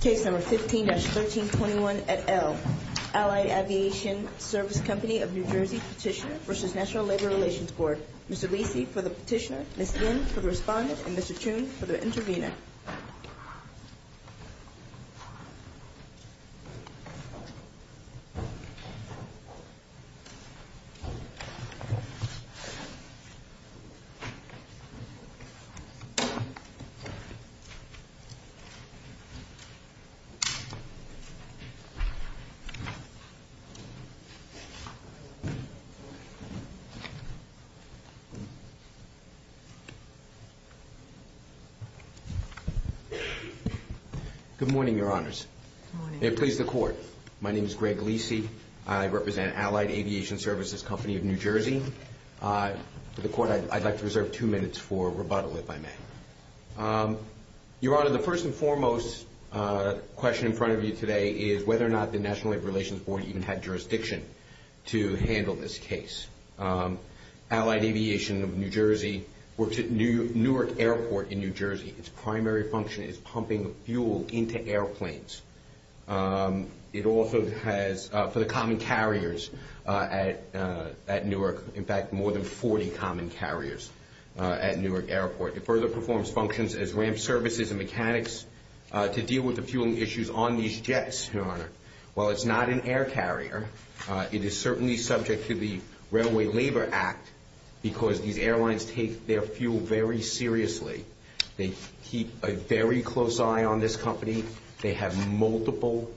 Case No. 15-1321 et al., Allied Aviation Service Company of New Jersey Petitioner v. NLRB. Mr. Leacy for the petitioner, Ms. Lynn for the respondent, and Mr. Tune for the intervener. Good morning, Your Honors. Good morning. May it please the Court, my name is Greg Leacy. I represent Allied Aviation Services Company of New Jersey. For the Court, I'd like to reserve two minutes for rebuttal, if I may. Your Honor, the first and foremost question in front of you today is whether or not the National Labor Relations Board even had jurisdiction to handle this case. Allied Aviation of New Jersey works at Newark Airport in New Jersey. Its primary function is pumping fuel into airplanes. It also has, for the common carriers at Newark, in fact, more than 40 common carriers at Newark Airport. It further performs functions as ramp services and mechanics to deal with the fueling issues on these jets, Your Honor. While it's not an air carrier, it is certainly subject to the Railway Labor Act because these airlines take their fuel very seriously. They keep a very close eye on this company. They have multiple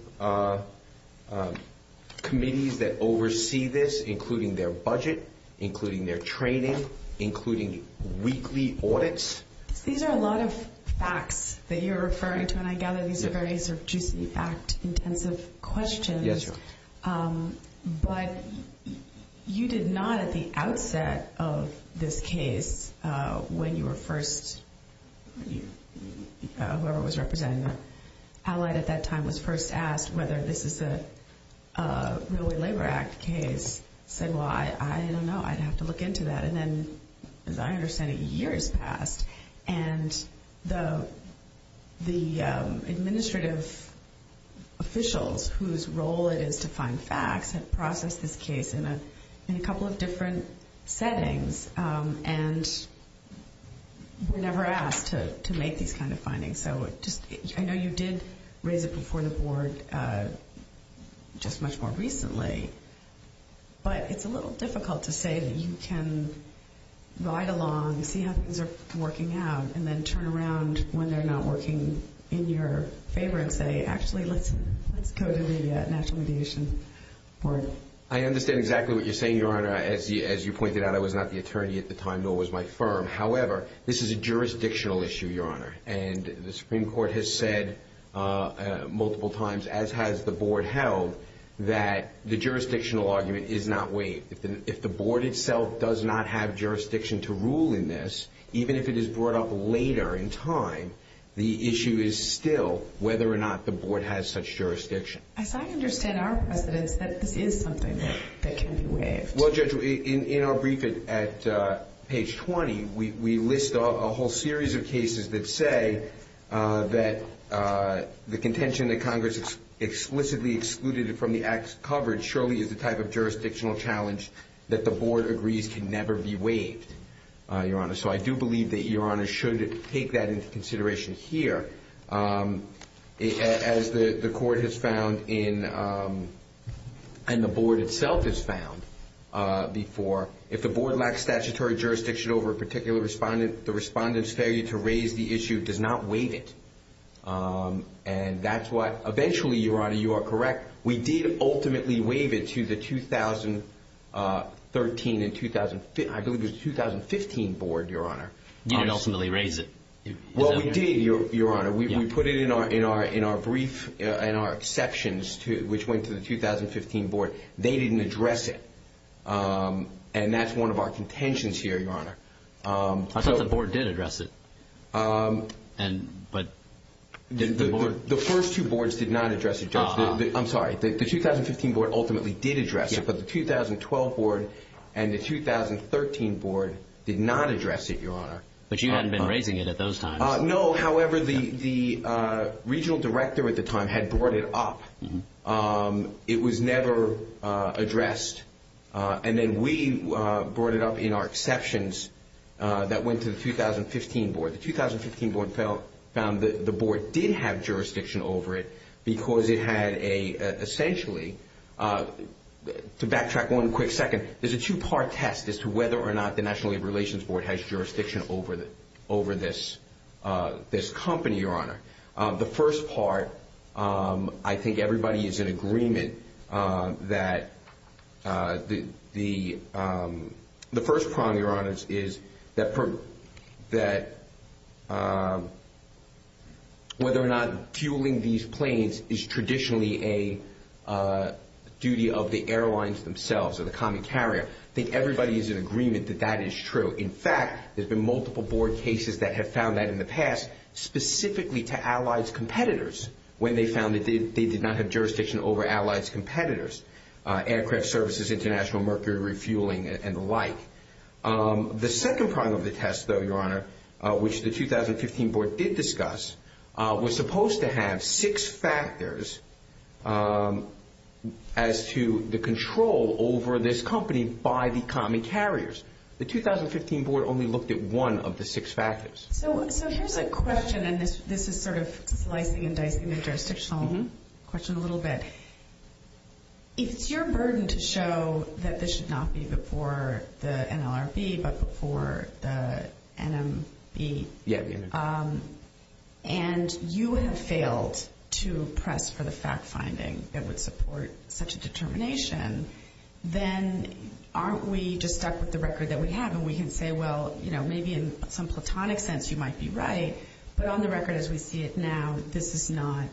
committees that oversee this, including their budget, including their training, including weekly audits. These are a lot of facts that you're referring to, and I gather these are very sort of juicy, act-intensive questions. Yes, Your Honor. But you did not at the outset of this case, when you were first – whoever was representing Allied at that time was first asked whether this is a Railway Labor Act case. Said, well, I don't know. I'd have to look into that. And then, as I understand it, years passed, and the administrative officials whose role it is to find facts have processed this case in a couple of different settings, and were never asked to make these kind of findings. I know you did raise it before the Board just much more recently, but it's a little difficult to say that you can ride along, see how things are working out, and then turn around when they're not working in your favor and say, actually, let's go to the National Radiation Board. I understand exactly what you're saying, Your Honor. As you pointed out, I was not the attorney at the time, nor was my firm. However, this is a jurisdictional issue, Your Honor, and the Supreme Court has said multiple times, as has the Board held, that the jurisdictional argument is not waived. If the Board itself does not have jurisdiction to rule in this, even if it is brought up later in time, the issue is still whether or not the Board has such jurisdiction. As I understand our precedence, that this is something that can be waived. Well, Judge, in our brief at page 20, we list a whole series of cases that say that the contention that Congress explicitly excluded it from the Act's coverage surely is the type of jurisdictional challenge that the Board agrees can never be waived, Your Honor. So I do believe that Your Honor should take that into consideration here. As the Court has found and the Board itself has found before, if the Board lacks statutory jurisdiction over a particular respondent, the respondent's failure to raise the issue does not waive it. And that's why, eventually, Your Honor, you are correct. We did ultimately waive it to the 2013 and I believe it was the 2015 Board, Your Honor. You didn't ultimately raise it. Well, we did, Your Honor. We put it in our brief and our exceptions, which went to the 2015 Board. They didn't address it, and that's one of our contentions here, Your Honor. I thought the Board did address it. The first two Boards did not address it, Judge. I'm sorry. The 2015 Board ultimately did address it, but the 2012 Board and the 2013 Board did not address it, Your Honor. But you hadn't been raising it at those times. No. However, the Regional Director at the time had brought it up. It was never addressed. And then we brought it up in our exceptions that went to the 2015 Board. The 2015 Board found that the Board did have jurisdiction over it because it had a, essentially, to backtrack one quick second, there's a two-part test as to whether or not the National Labor Relations Board has jurisdiction over this company, Your Honor. The first part, I think everybody is in agreement that the first problem, Your Honor, is that whether or not fueling these planes is traditionally a duty of the airlines themselves or the common carrier. I think everybody is in agreement that that is true. In fact, there have been multiple Board cases that have found that in the past, specifically to allies' competitors, when they found that they did not have jurisdiction over allies' competitors, aircraft services, international mercury refueling, and the like. The second part of the test, though, Your Honor, which the 2015 Board did discuss, was supposed to have six factors as to the control over this company by the common carriers. The 2015 Board only looked at one of the six factors. So here's a question, and this is sort of slicing and dicing the jurisdictional question a little bit. If it's your burden to show that this should not be before the NLRB but before the NMB, and you have failed to press for the fact-finding that would support such a determination, then aren't we just stuck with the record that we have? And we can say, well, you know, maybe in some platonic sense you might be right, but on the record as we see it now, this is not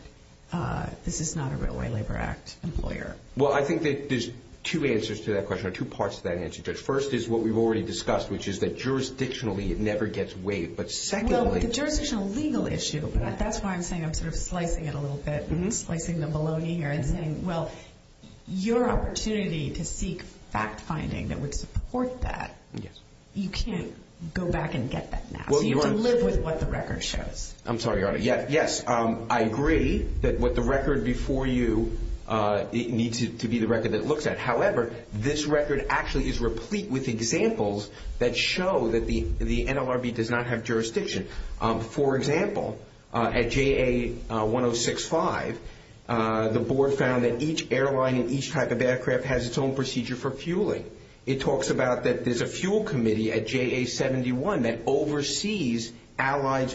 a Railway Labor Act employer. Well, I think that there's two answers to that question or two parts to that answer, Judge. First is what we've already discussed, which is that jurisdictionally it never gets weighed. Well, the jurisdictional legal issue, that's why I'm saying I'm sort of slicing it a little bit, slicing the bologna here and saying, well, your opportunity to seek fact-finding that would support that, you can't go back and get that now. So you have to live with what the record shows. I'm sorry, Your Honor. Yes, I agree that what the record before you needs to be the record that it looks at. However, this record actually is replete with examples that show that the NLRB does not have jurisdiction. For example, at JA-1065, the board found that each airline and each type of aircraft has its own procedure for fueling. It talks about that there's a fuel committee at JA-71 that oversees allied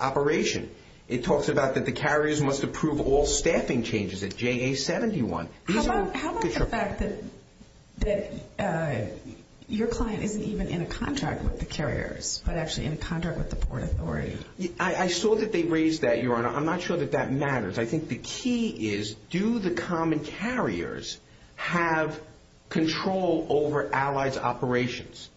operation. It talks about that the carriers must approve all staffing changes at JA-71. How about the fact that your client isn't even in a contract with the carriers but actually in a contract with the Port Authority? I saw that they raised that, Your Honor. I'm not sure that that matters. I think the key is do the common carriers have control over allied's operations?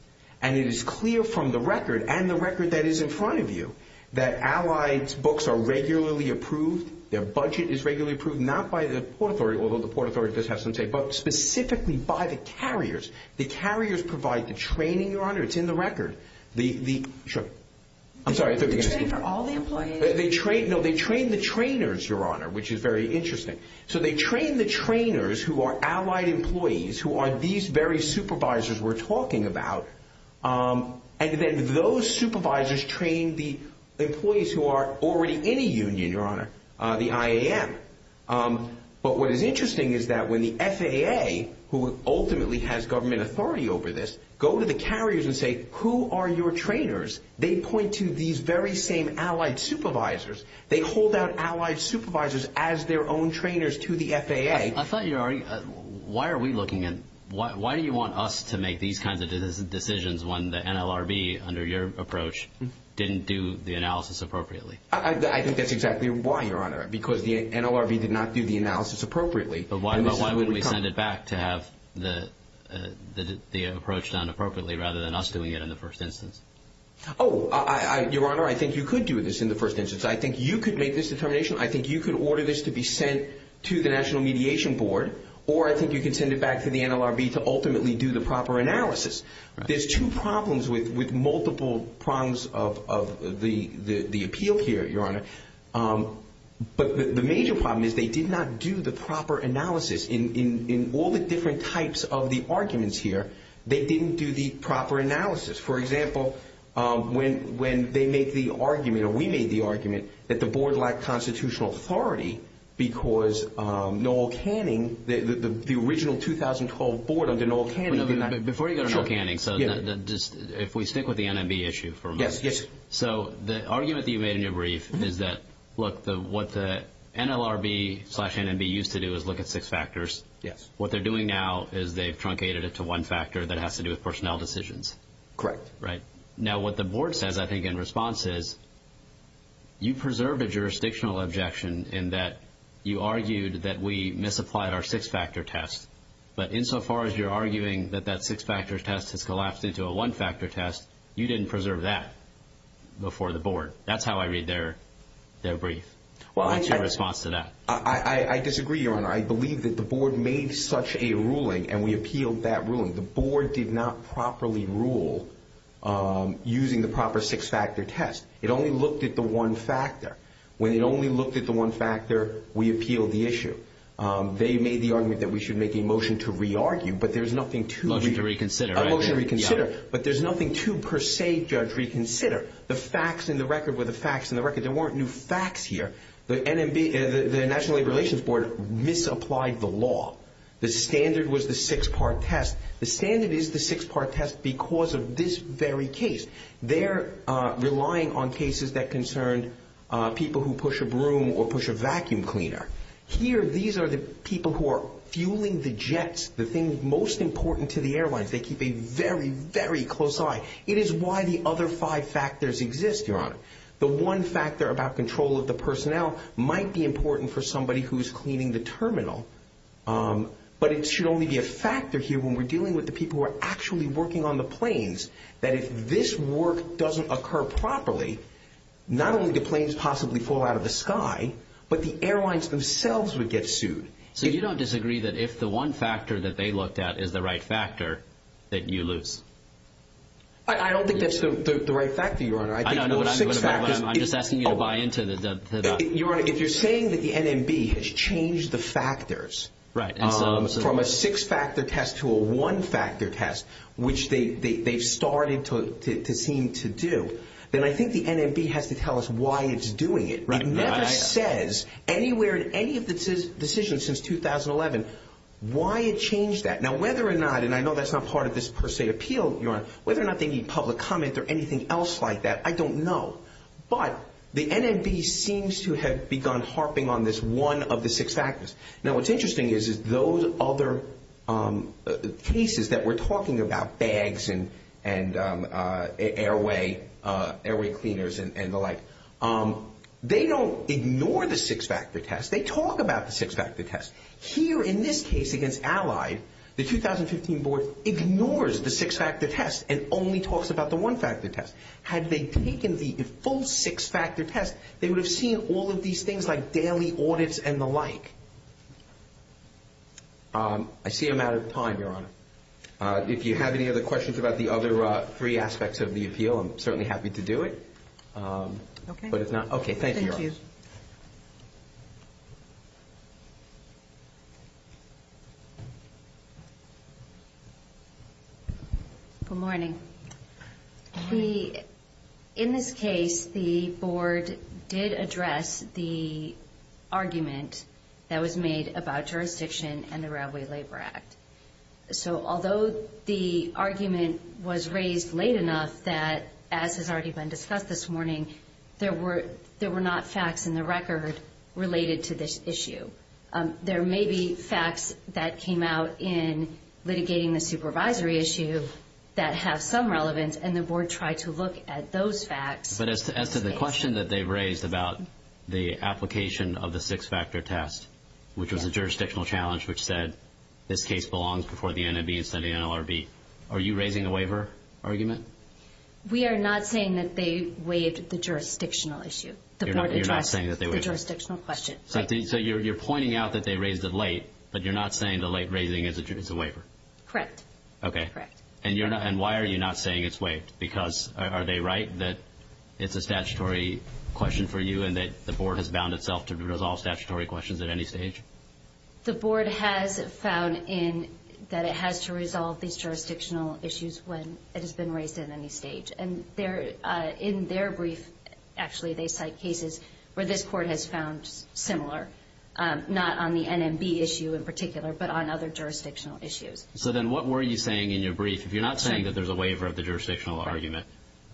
And it is clear from the record and the record that is in front of you that allied's books are regularly approved, their budget is regularly approved, not by the Port Authority, although the Port Authority does have some say, but specifically by the carriers. The carriers provide the training, Your Honor. It's in the record. They train all the employees? No, they train the trainers, Your Honor, which is very interesting. So they train the trainers who are allied employees, who are these very supervisors we're talking about, and then those supervisors train the employees who are already in a union, Your Honor, the IAM. But what is interesting is that when the FAA, who ultimately has government authority over this, go to the carriers and say, who are your trainers? They point to these very same allied supervisors. They hold out allied supervisors as their own trainers to the FAA. I thought you already – why are we looking at – why do you want us to make these kinds of decisions when the NLRB, under your approach, didn't do the analysis appropriately? I think that's exactly why, Your Honor, because the NLRB did not do the analysis appropriately. But why would we send it back to have the approach done appropriately rather than us doing it in the first instance? Oh, Your Honor, I think you could do this in the first instance. I think you could make this determination. I think you could order this to be sent to the National Mediation Board, or I think you could send it back to the NLRB to ultimately do the proper analysis. There's two problems with multiple prongs of the appeal here, Your Honor. But the major problem is they did not do the proper analysis. In all the different types of the arguments here, they didn't do the proper analysis. For example, when they made the argument, or we made the argument, that the board lacked constitutional authority because Noel Canning, the original 2012 board under Noel Canning did not – Before you go to Noel Canning, if we stick with the NMB issue for a moment. Yes, yes. So the argument that you made in your brief is that, look, what the NLRB slash NMB used to do is look at six factors. Yes. What they're doing now is they've truncated it to one factor that has to do with personnel decisions. Correct. Now what the board says, I think, in response is, you preserved a jurisdictional objection in that you argued that we misapplied our six-factor test. But insofar as you're arguing that that six-factor test has collapsed into a one-factor test, you didn't preserve that before the board. That's how I read their brief. What's your response to that? I disagree, Your Honor. I believe that the board made such a ruling and we appealed that ruling. The board did not properly rule using the proper six-factor test. It only looked at the one factor. When it only looked at the one factor, we appealed the issue. They made the argument that we should make a motion to re-argue, but there's nothing to – Motion to reconsider, right? A motion to reconsider, but there's nothing to per se judge reconsider. The facts in the record were the facts in the record. There weren't new facts here. The National Labor Relations Board misapplied the law. The standard was the six-part test. The standard is the six-part test because of this very case. They're relying on cases that concerned people who push a broom or push a vacuum cleaner. Here, these are the people who are fueling the jets, the thing most important to the airlines. They keep a very, very close eye. It is why the other five factors exist, Your Honor. The one factor about control of the personnel might be important for somebody who's cleaning the terminal, but it should only be a factor here when we're dealing with the people who are actually working on the planes, that if this work doesn't occur properly, not only do planes possibly fall out of the sky, but the airlines themselves would get sued. So you don't disagree that if the one factor that they looked at is the right factor, that you lose? I don't think that's the right factor, Your Honor. I don't know what I'm doing, but I'm just asking you to buy into that. Your Honor, if you're saying that the NMB has changed the factors from a six-factor test to a one-factor test, which they've started to seem to do, then I think the NMB has to tell us why it's doing it. It never says anywhere in any of the decisions since 2011 why it changed that. Now, whether or not, and I know that's not part of this per se appeal, Your Honor, whether or not they need public comment or anything else like that, I don't know. But the NMB seems to have begun harping on this one of the six factors. Now, what's interesting is those other cases that we're talking about, bags and airway cleaners and the like, they don't ignore the six-factor test. They talk about the six-factor test. Here in this case against Allied, the 2015 board ignores the six-factor test and only talks about the one-factor test. Had they taken the full six-factor test, they would have seen all of these things like daily audits and the like. I see I'm out of time, Your Honor. If you have any other questions about the other three aspects of the appeal, I'm certainly happy to do it. Okay, thank you. Good morning. In this case, the board did address the argument that was made about jurisdiction and the Railway Labor Act. So although the argument was raised late enough that, as has already been discussed this morning, there were not facts in the record related to this issue. There may be facts that came out in litigating the supervisory issue that have some relevance, and the board tried to look at those facts. But as to the question that they raised about the application of the six-factor test, which was a jurisdictional challenge which said this case belongs before the NMB instead of the NLRB, are you raising a waiver argument? We are not saying that they waived the jurisdictional issue. You're not saying that they waived it? The jurisdictional question. So you're pointing out that they raised it late, but you're not saying the late raising is a waiver? Okay. And why are you not saying it's waived? Because are they right that it's a statutory question for you and that the board has bound itself to resolve statutory questions at any stage? The board has found that it has to resolve these jurisdictional issues when it has been raised at any stage. And in their brief, actually, they cite cases where this court has found similar, not on the NMB issue in particular, but on other jurisdictional issues. So then what were you saying in your brief? If you're not saying that there's a waiver of the jurisdictional argument,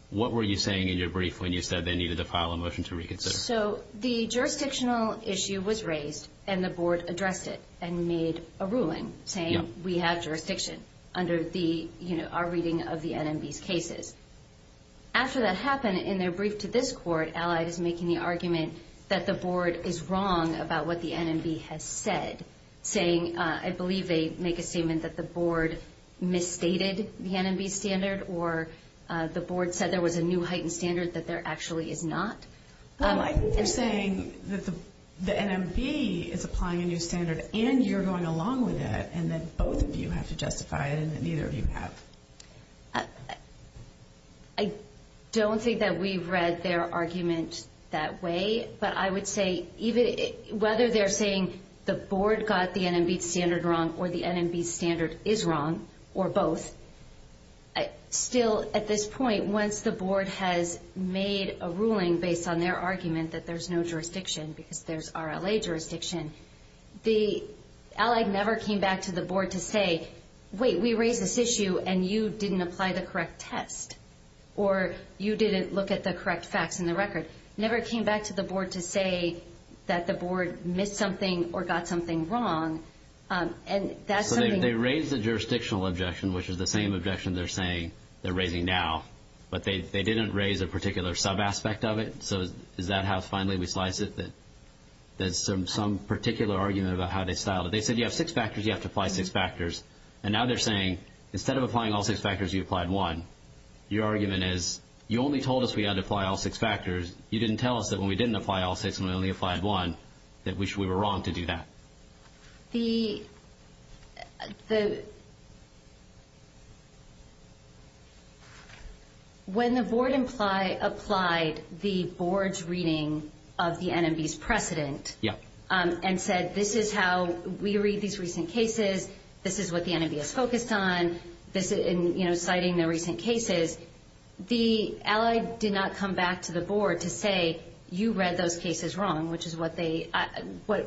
what were you saying in your brief when you said they needed to file a motion to reconsider? So the jurisdictional issue was raised and the board addressed it and made a ruling saying we have jurisdiction under our reading of the NMB's cases. After that happened, in their brief to this court, Allied is making the argument that the board is wrong about what the NMB has said, saying I believe they make a statement that the board misstated the NMB standard or the board said there was a new heightened standard that there actually is not. Well, I think they're saying that the NMB is applying a new standard and you're going along with it and that both of you have to justify it and that neither of you have. I don't think that we've read their argument that way, but I would say whether they're saying the board got the NMB standard wrong or the NMB standard is wrong or both, still at this point once the board has made a ruling based on their argument that there's no jurisdiction because there's RLA jurisdiction, the Allied never came back to the board to say, wait, we raised this issue and you didn't apply the correct test or you didn't look at the correct facts in the record. They never came back to the board to say that the board missed something or got something wrong. So they raised the jurisdictional objection, which is the same objection they're saying they're raising now, but they didn't raise a particular sub-aspect of it. So is that how finally we slice it, that there's some particular argument about how they styled it? They said you have six factors, you have to apply six factors, and now they're saying instead of applying all six factors, you applied one. Your argument is you only told us we had to apply all six factors. You didn't tell us that when we didn't apply all six and we only applied one that we were wrong to do that. When the board applied the board's reading of the NMB's precedent and said this is how we read these recent cases, this is what the NMB is focused on, citing the recent cases, the allied did not come back to the board to say you read those cases wrong, which is what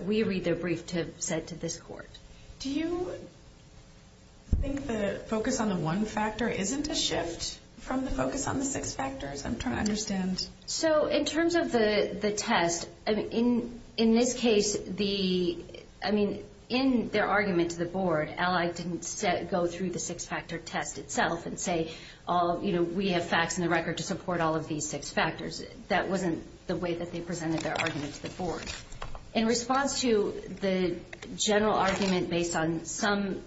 we read their brief to have said to this court. Do you think the focus on the one factor isn't a shift from the focus on the six factors? I'm trying to understand. So in terms of the test, in this case, in their argument to the board, the allied didn't go through the six-factor test itself and say we have facts in the record to support all of these six factors. That wasn't the way that they presented their argument to the board. In response to the general argument based on some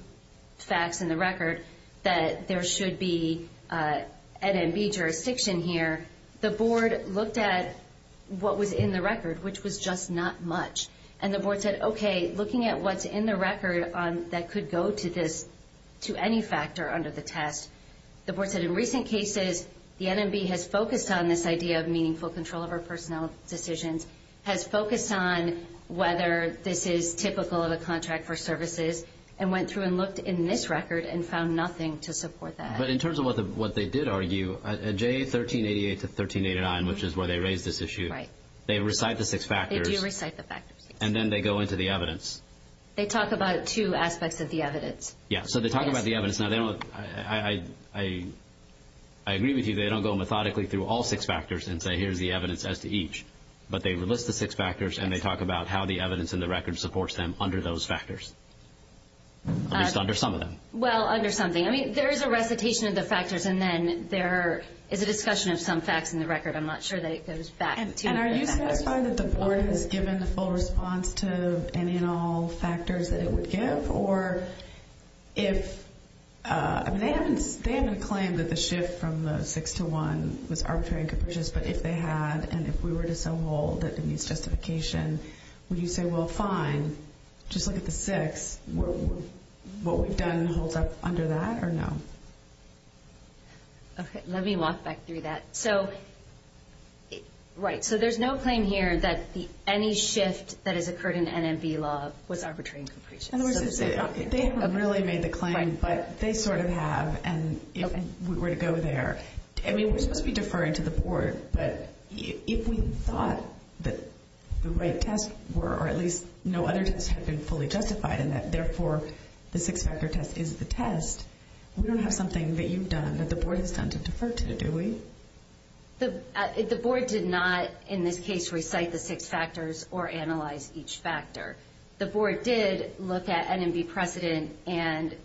facts in the record that there should be NMB jurisdiction here, the board looked at what was in the record, which was just not much, and the board said, okay, looking at what's in the record that could go to this, to any factor under the test, the board said in recent cases, the NMB has focused on this idea of meaningful control over personnel decisions, has focused on whether this is typical of a contract for services, and went through and looked in this record and found nothing to support that. But in terms of what they did argue, J1388 to 1389, which is where they raised this issue, they recite the six factors. Do you recite the factors? And then they go into the evidence. They talk about two aspects of the evidence. Yes. So they talk about the evidence. Now, I agree with you. They don't go methodically through all six factors and say here's the evidence as to each. But they list the six factors, and they talk about how the evidence in the record supports them under those factors, at least under some of them. Well, under something. I mean, there is a recitation of the factors, and then there is a discussion of some facts in the record. I'm not sure that it goes back to the factors. And are you satisfied that the board has given a full response to any and all factors that it would give? Or if they haven't claimed that the shift from the six to one was arbitrary and capricious, but if they had, and if we were to say, well, that needs justification, would you say, well, fine, just look at the six, what we've done holds up under that, or no? Okay. Let me walk back through that. Right. So there's no claim here that any shift that has occurred in NMB law was arbitrary and capricious. In other words, they haven't really made the claim, but they sort of have. And if we were to go there, I mean, we're supposed to be deferring to the board, but if we thought that the right tests were, or at least no other tests had been fully justified, and that, therefore, the six-factor test is the test, we don't have something that you've done that the board has done to defer to, do we? The board did not, in this case, recite the six factors or analyze each factor. The board did look at NMB precedent and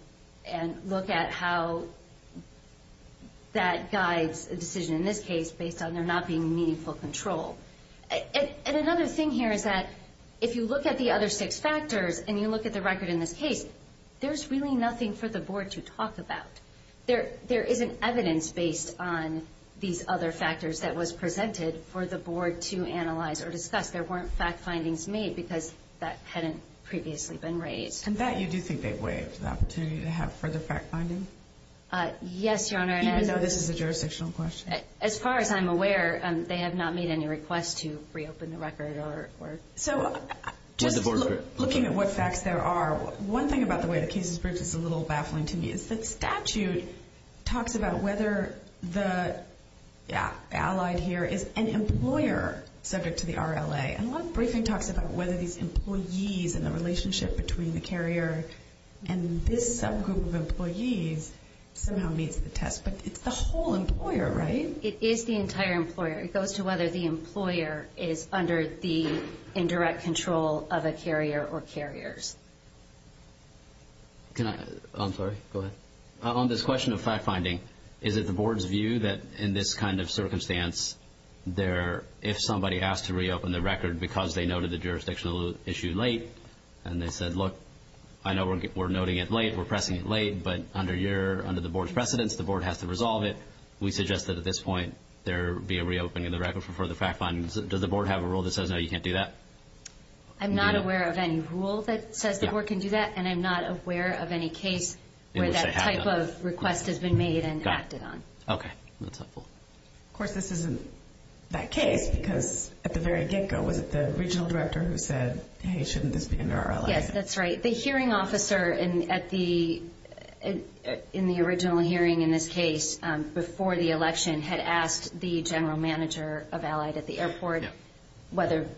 look at how that guides a decision in this case based on there not being meaningful control. And another thing here is that if you look at the other six factors and you look at the record in this case, there's really nothing for the board to talk about. There isn't evidence based on these other factors that was presented for the board to analyze or discuss. There weren't fact findings made because that hadn't previously been raised. And that you do think they've waived, the opportunity to have further fact finding? Yes, Your Honor. Even though this is a jurisdictional question? As far as I'm aware, they have not made any requests to reopen the record. So just looking at what facts there are, one thing about the way the case is briefed is a little baffling to me. It's that statute talks about whether the allied here is an employer subject to the RLA. And a lot of briefing talks about whether these employees and the relationship between the carrier and this subgroup of employees somehow meets the test. But it's the whole employer, right? It is the entire employer. It goes to whether the employer is under the indirect control of a carrier or carriers. I'm sorry. Go ahead. On this question of fact finding, is it the board's view that in this kind of circumstance, if somebody asked to reopen the record because they noted the jurisdictional issue late and they said, look, I know we're noting it late, we're pressing it late, but under the board's precedence, the board has to resolve it, we suggest that at this point there be a reopening of the record for the fact finding. Does the board have a rule that says, no, you can't do that? I'm not aware of any rule that says the board can do that, and I'm not aware of any case where that type of request has been made and acted on. Okay. Of course, this isn't that case because at the very get-go, was it the regional director who said, hey, shouldn't this be under RLA? Yes, that's right. The hearing officer in the original hearing in this case, before the election, had asked the general manager of Allied at the airport whether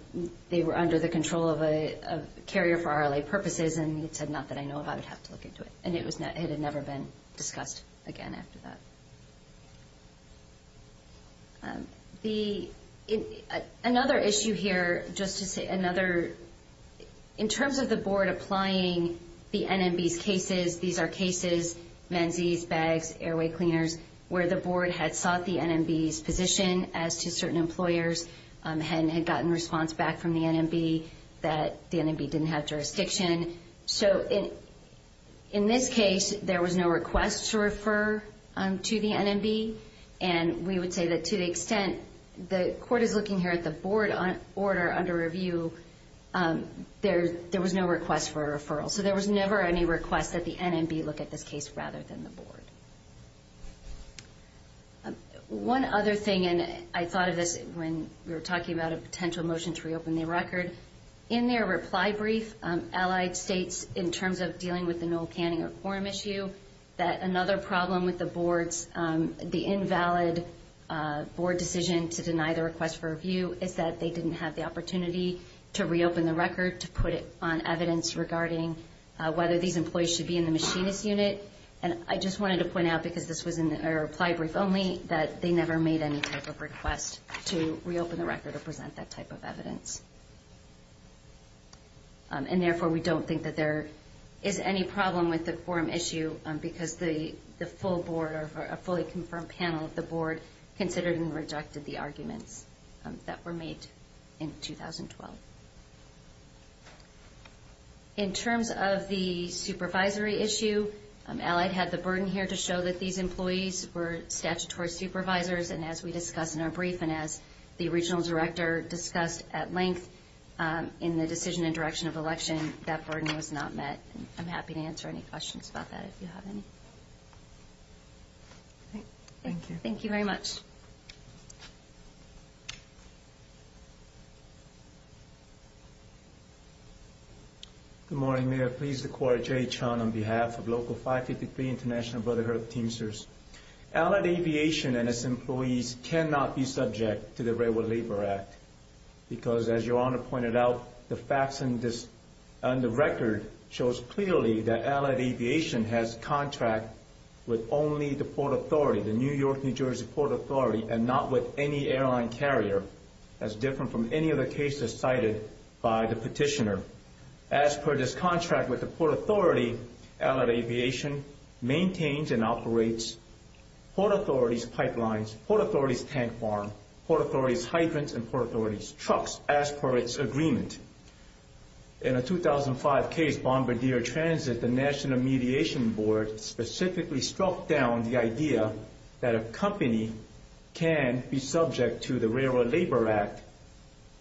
they were under the control of a carrier for RLA purposes, and he said, not that I know of. I would have to look into it, and it had never been discussed again after that. Another issue here, just to say another, in terms of the board applying the NMB's cases, these are cases, mensees, bags, airway cleaners, where the board had sought the NMB's position as to certain employers and had gotten response back from the NMB that the NMB didn't have jurisdiction. So in this case, there was no request to refer to the NMB, and we would say that to the extent the court is looking here at the board order under review, there was no request for a referral. So there was never any request that the NMB look at this case rather than the board. One other thing, and I thought of this when we were talking about a potential motion to reopen the record. In their reply brief, Allied states, in terms of dealing with the Noel Canning or Coram issue, that another problem with the board's, the invalid board decision to deny the request for review, is that they didn't have the opportunity to reopen the record to put it on evidence regarding whether these employees should be in the machinist unit. And I just wanted to point out, because this was in a reply brief only, that they never made any type of request to reopen the record or present that type of evidence. And therefore, we don't think that there is any problem with the Coram issue, because the full board or a fully confirmed panel of the board considered and rejected the arguments that were made in 2012. In terms of the supervisory issue, Allied had the burden here to show that these employees were statutory supervisors. And as we discussed in our brief and as the regional director discussed at length in the decision and direction of election, that burden was not met. I'm happy to answer any questions about that if you have any. Thank you. Thank you very much. Good morning, Mayor. Pleased to call Jay Chun on behalf of Local 553 International Brotherhood Teamsters. Allied Aviation and its employees cannot be subject to the Railroad Labor Act, because as Your Honor pointed out, the facts on the record shows clearly that Allied Aviation has a contract with only the Port Authority, the New York, New Jersey Port Authority, and not with any airline carrier, as different from any other cases cited by the petitioner. As per this contract with the Port Authority, Allied Aviation maintains and operates Port Authority's pipelines, Port Authority's tank farm, Port Authority's hydrants, and Port Authority's trucks as per its agreement. In a 2005 case, Bombardier Transit, the National Mediation Board, specifically struck down the idea that a company can be subject to the Railroad Labor Act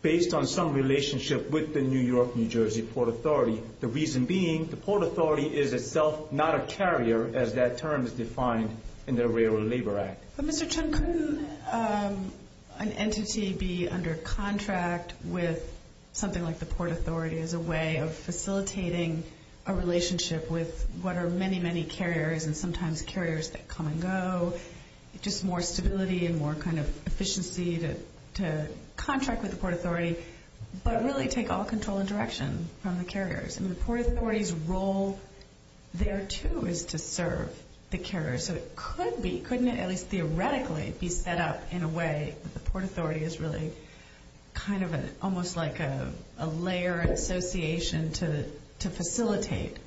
based on some relationship with the New York, New Jersey Port Authority, the reason being the Port Authority is itself not a carrier, as that term is defined in the Railroad Labor Act. Mr. Chun, couldn't an entity be under contract with something like the Port Authority as a way of facilitating a relationship with what are many, many carriers, and sometimes carriers that come and go, just more stability and more kind of efficiency to contract with the Port Authority, but really take all control and direction from the carriers? I mean, the Port Authority's role there, too, is to serve the carriers, so it could be, couldn't it at least theoretically be set up in a way that the Port Authority is really kind of almost like a layer association to facilitate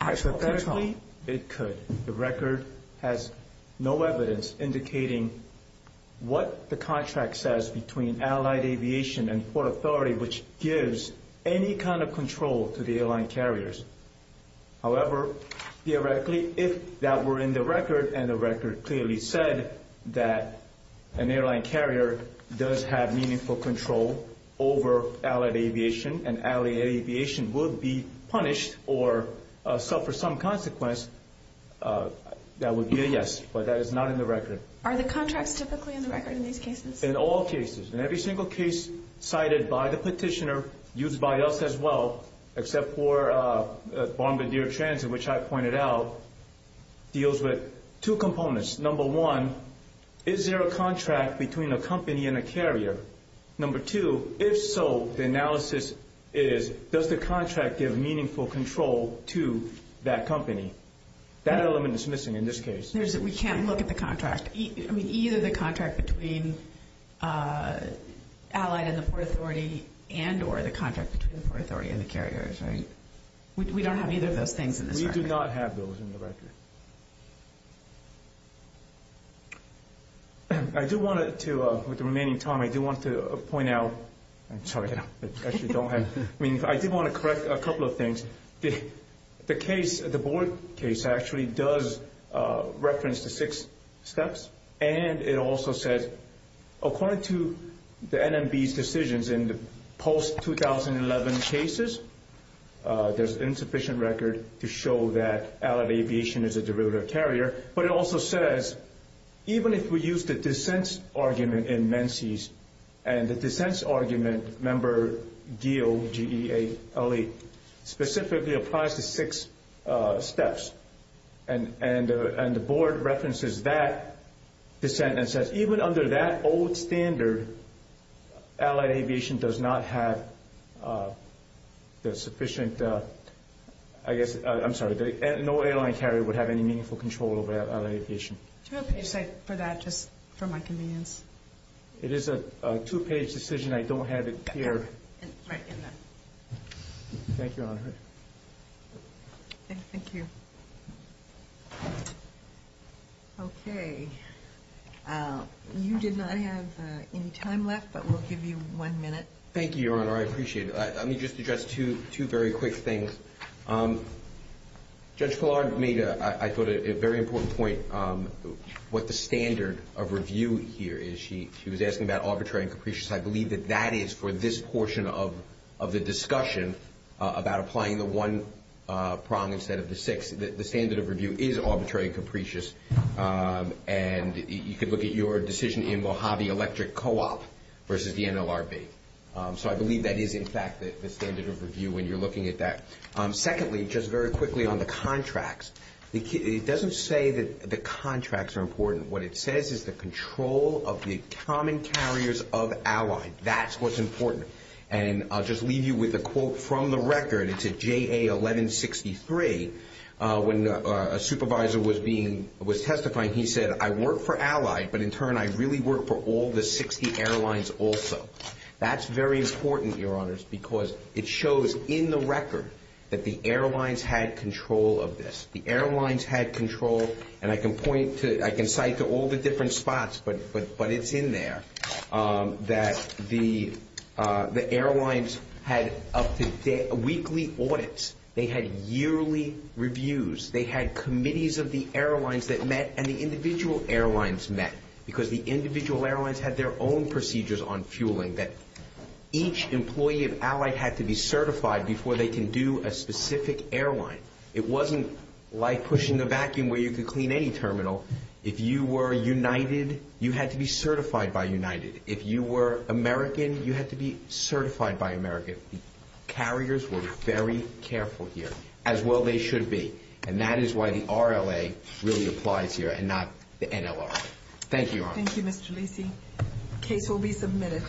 actual control? The record has no evidence indicating what the contract says between Allied Aviation and Port Authority, which gives any kind of control to the airline carriers. However, theoretically, if that were in the record, and the record clearly said that an airline carrier does have meaningful control over Allied Aviation and Allied Aviation would be punished or suffer some consequence, that would be a yes, but that is not in the record. Are the contracts typically in the record in these cases? In all cases. In every single case cited by the petitioner, used by us as well, except for Bombardier Transit, which I pointed out, deals with two components. Number one, is there a contract between a company and a carrier? Number two, if so, the analysis is, does the contract give meaningful control to that company? That element is missing in this case. We can't look at the contract. I mean, either the contract between Allied and the Port Authority and or the contract between the Port Authority and the carriers, right? We don't have either of those things in this record. We do not have those in the record. I do want to, with the remaining time, I do want to point out, I'm sorry, I actually don't have, I mean, I did want to correct a couple of things. The case, the board case, actually does reference the six steps, and it also says, according to the NMB's decisions in the post-2011 cases, there's insufficient record to show that Allied Aviation is a derivative carrier, but it also says, even if we use the dissents argument in Menzies, and the dissents argument, member Geale, G-E-A-L-E, specifically applies to six steps, and the board references that dissent and says, even under that old standard, Allied Aviation does not have the sufficient, I guess, I'm sorry, no airline carrier would have any meaningful control over Allied Aviation. Do you have a page set for that, just for my convenience? It is a two-page decision. I don't have it here. Right in there. Thank you, Your Honor. Thank you. Okay. You did not have any time left, but we'll give you one minute. Thank you, Your Honor. I appreciate it. Let me just address two very quick things. Judge Killard made, I thought, a very important point, what the standard of review here is. She was asking about arbitrary and capricious. I believe that that is, for this portion of the discussion, about applying the one prong instead of the six, that the standard of review is arbitrary and capricious, and you could look at your decision in Mojave Electric Co-op versus the NLRB. So I believe that is, in fact, the standard of review when you're looking at that. Secondly, just very quickly on the contracts, it doesn't say that the contracts are important. What it says is the control of the common carriers of Allied. That's what's important. And I'll just leave you with a quote from the record. It's a JA 1163. When a supervisor was testifying, he said, I work for Allied, but in turn I really work for all the 60 airlines also. That's very important, Your Honors, because it shows in the record that the airlines had control of this. The airlines had control, and I can point to, I can cite to all the different spots, but it's in there, that the airlines had up to weekly audits. They had yearly reviews. They had committees of the airlines that met, and the individual airlines met, because the individual airlines had their own procedures on fueling, that each employee of Allied had to be certified before they can do a specific airline. It wasn't like pushing the vacuum where you could clean any terminal. If you were United, you had to be certified by United. If you were American, you had to be certified by American. Carriers were very careful here, as well they should be, and that is why the RLA really applies here and not the NLR. Thank you, Your Honor. Thank you, Mr. Lacy. Case will be submitted.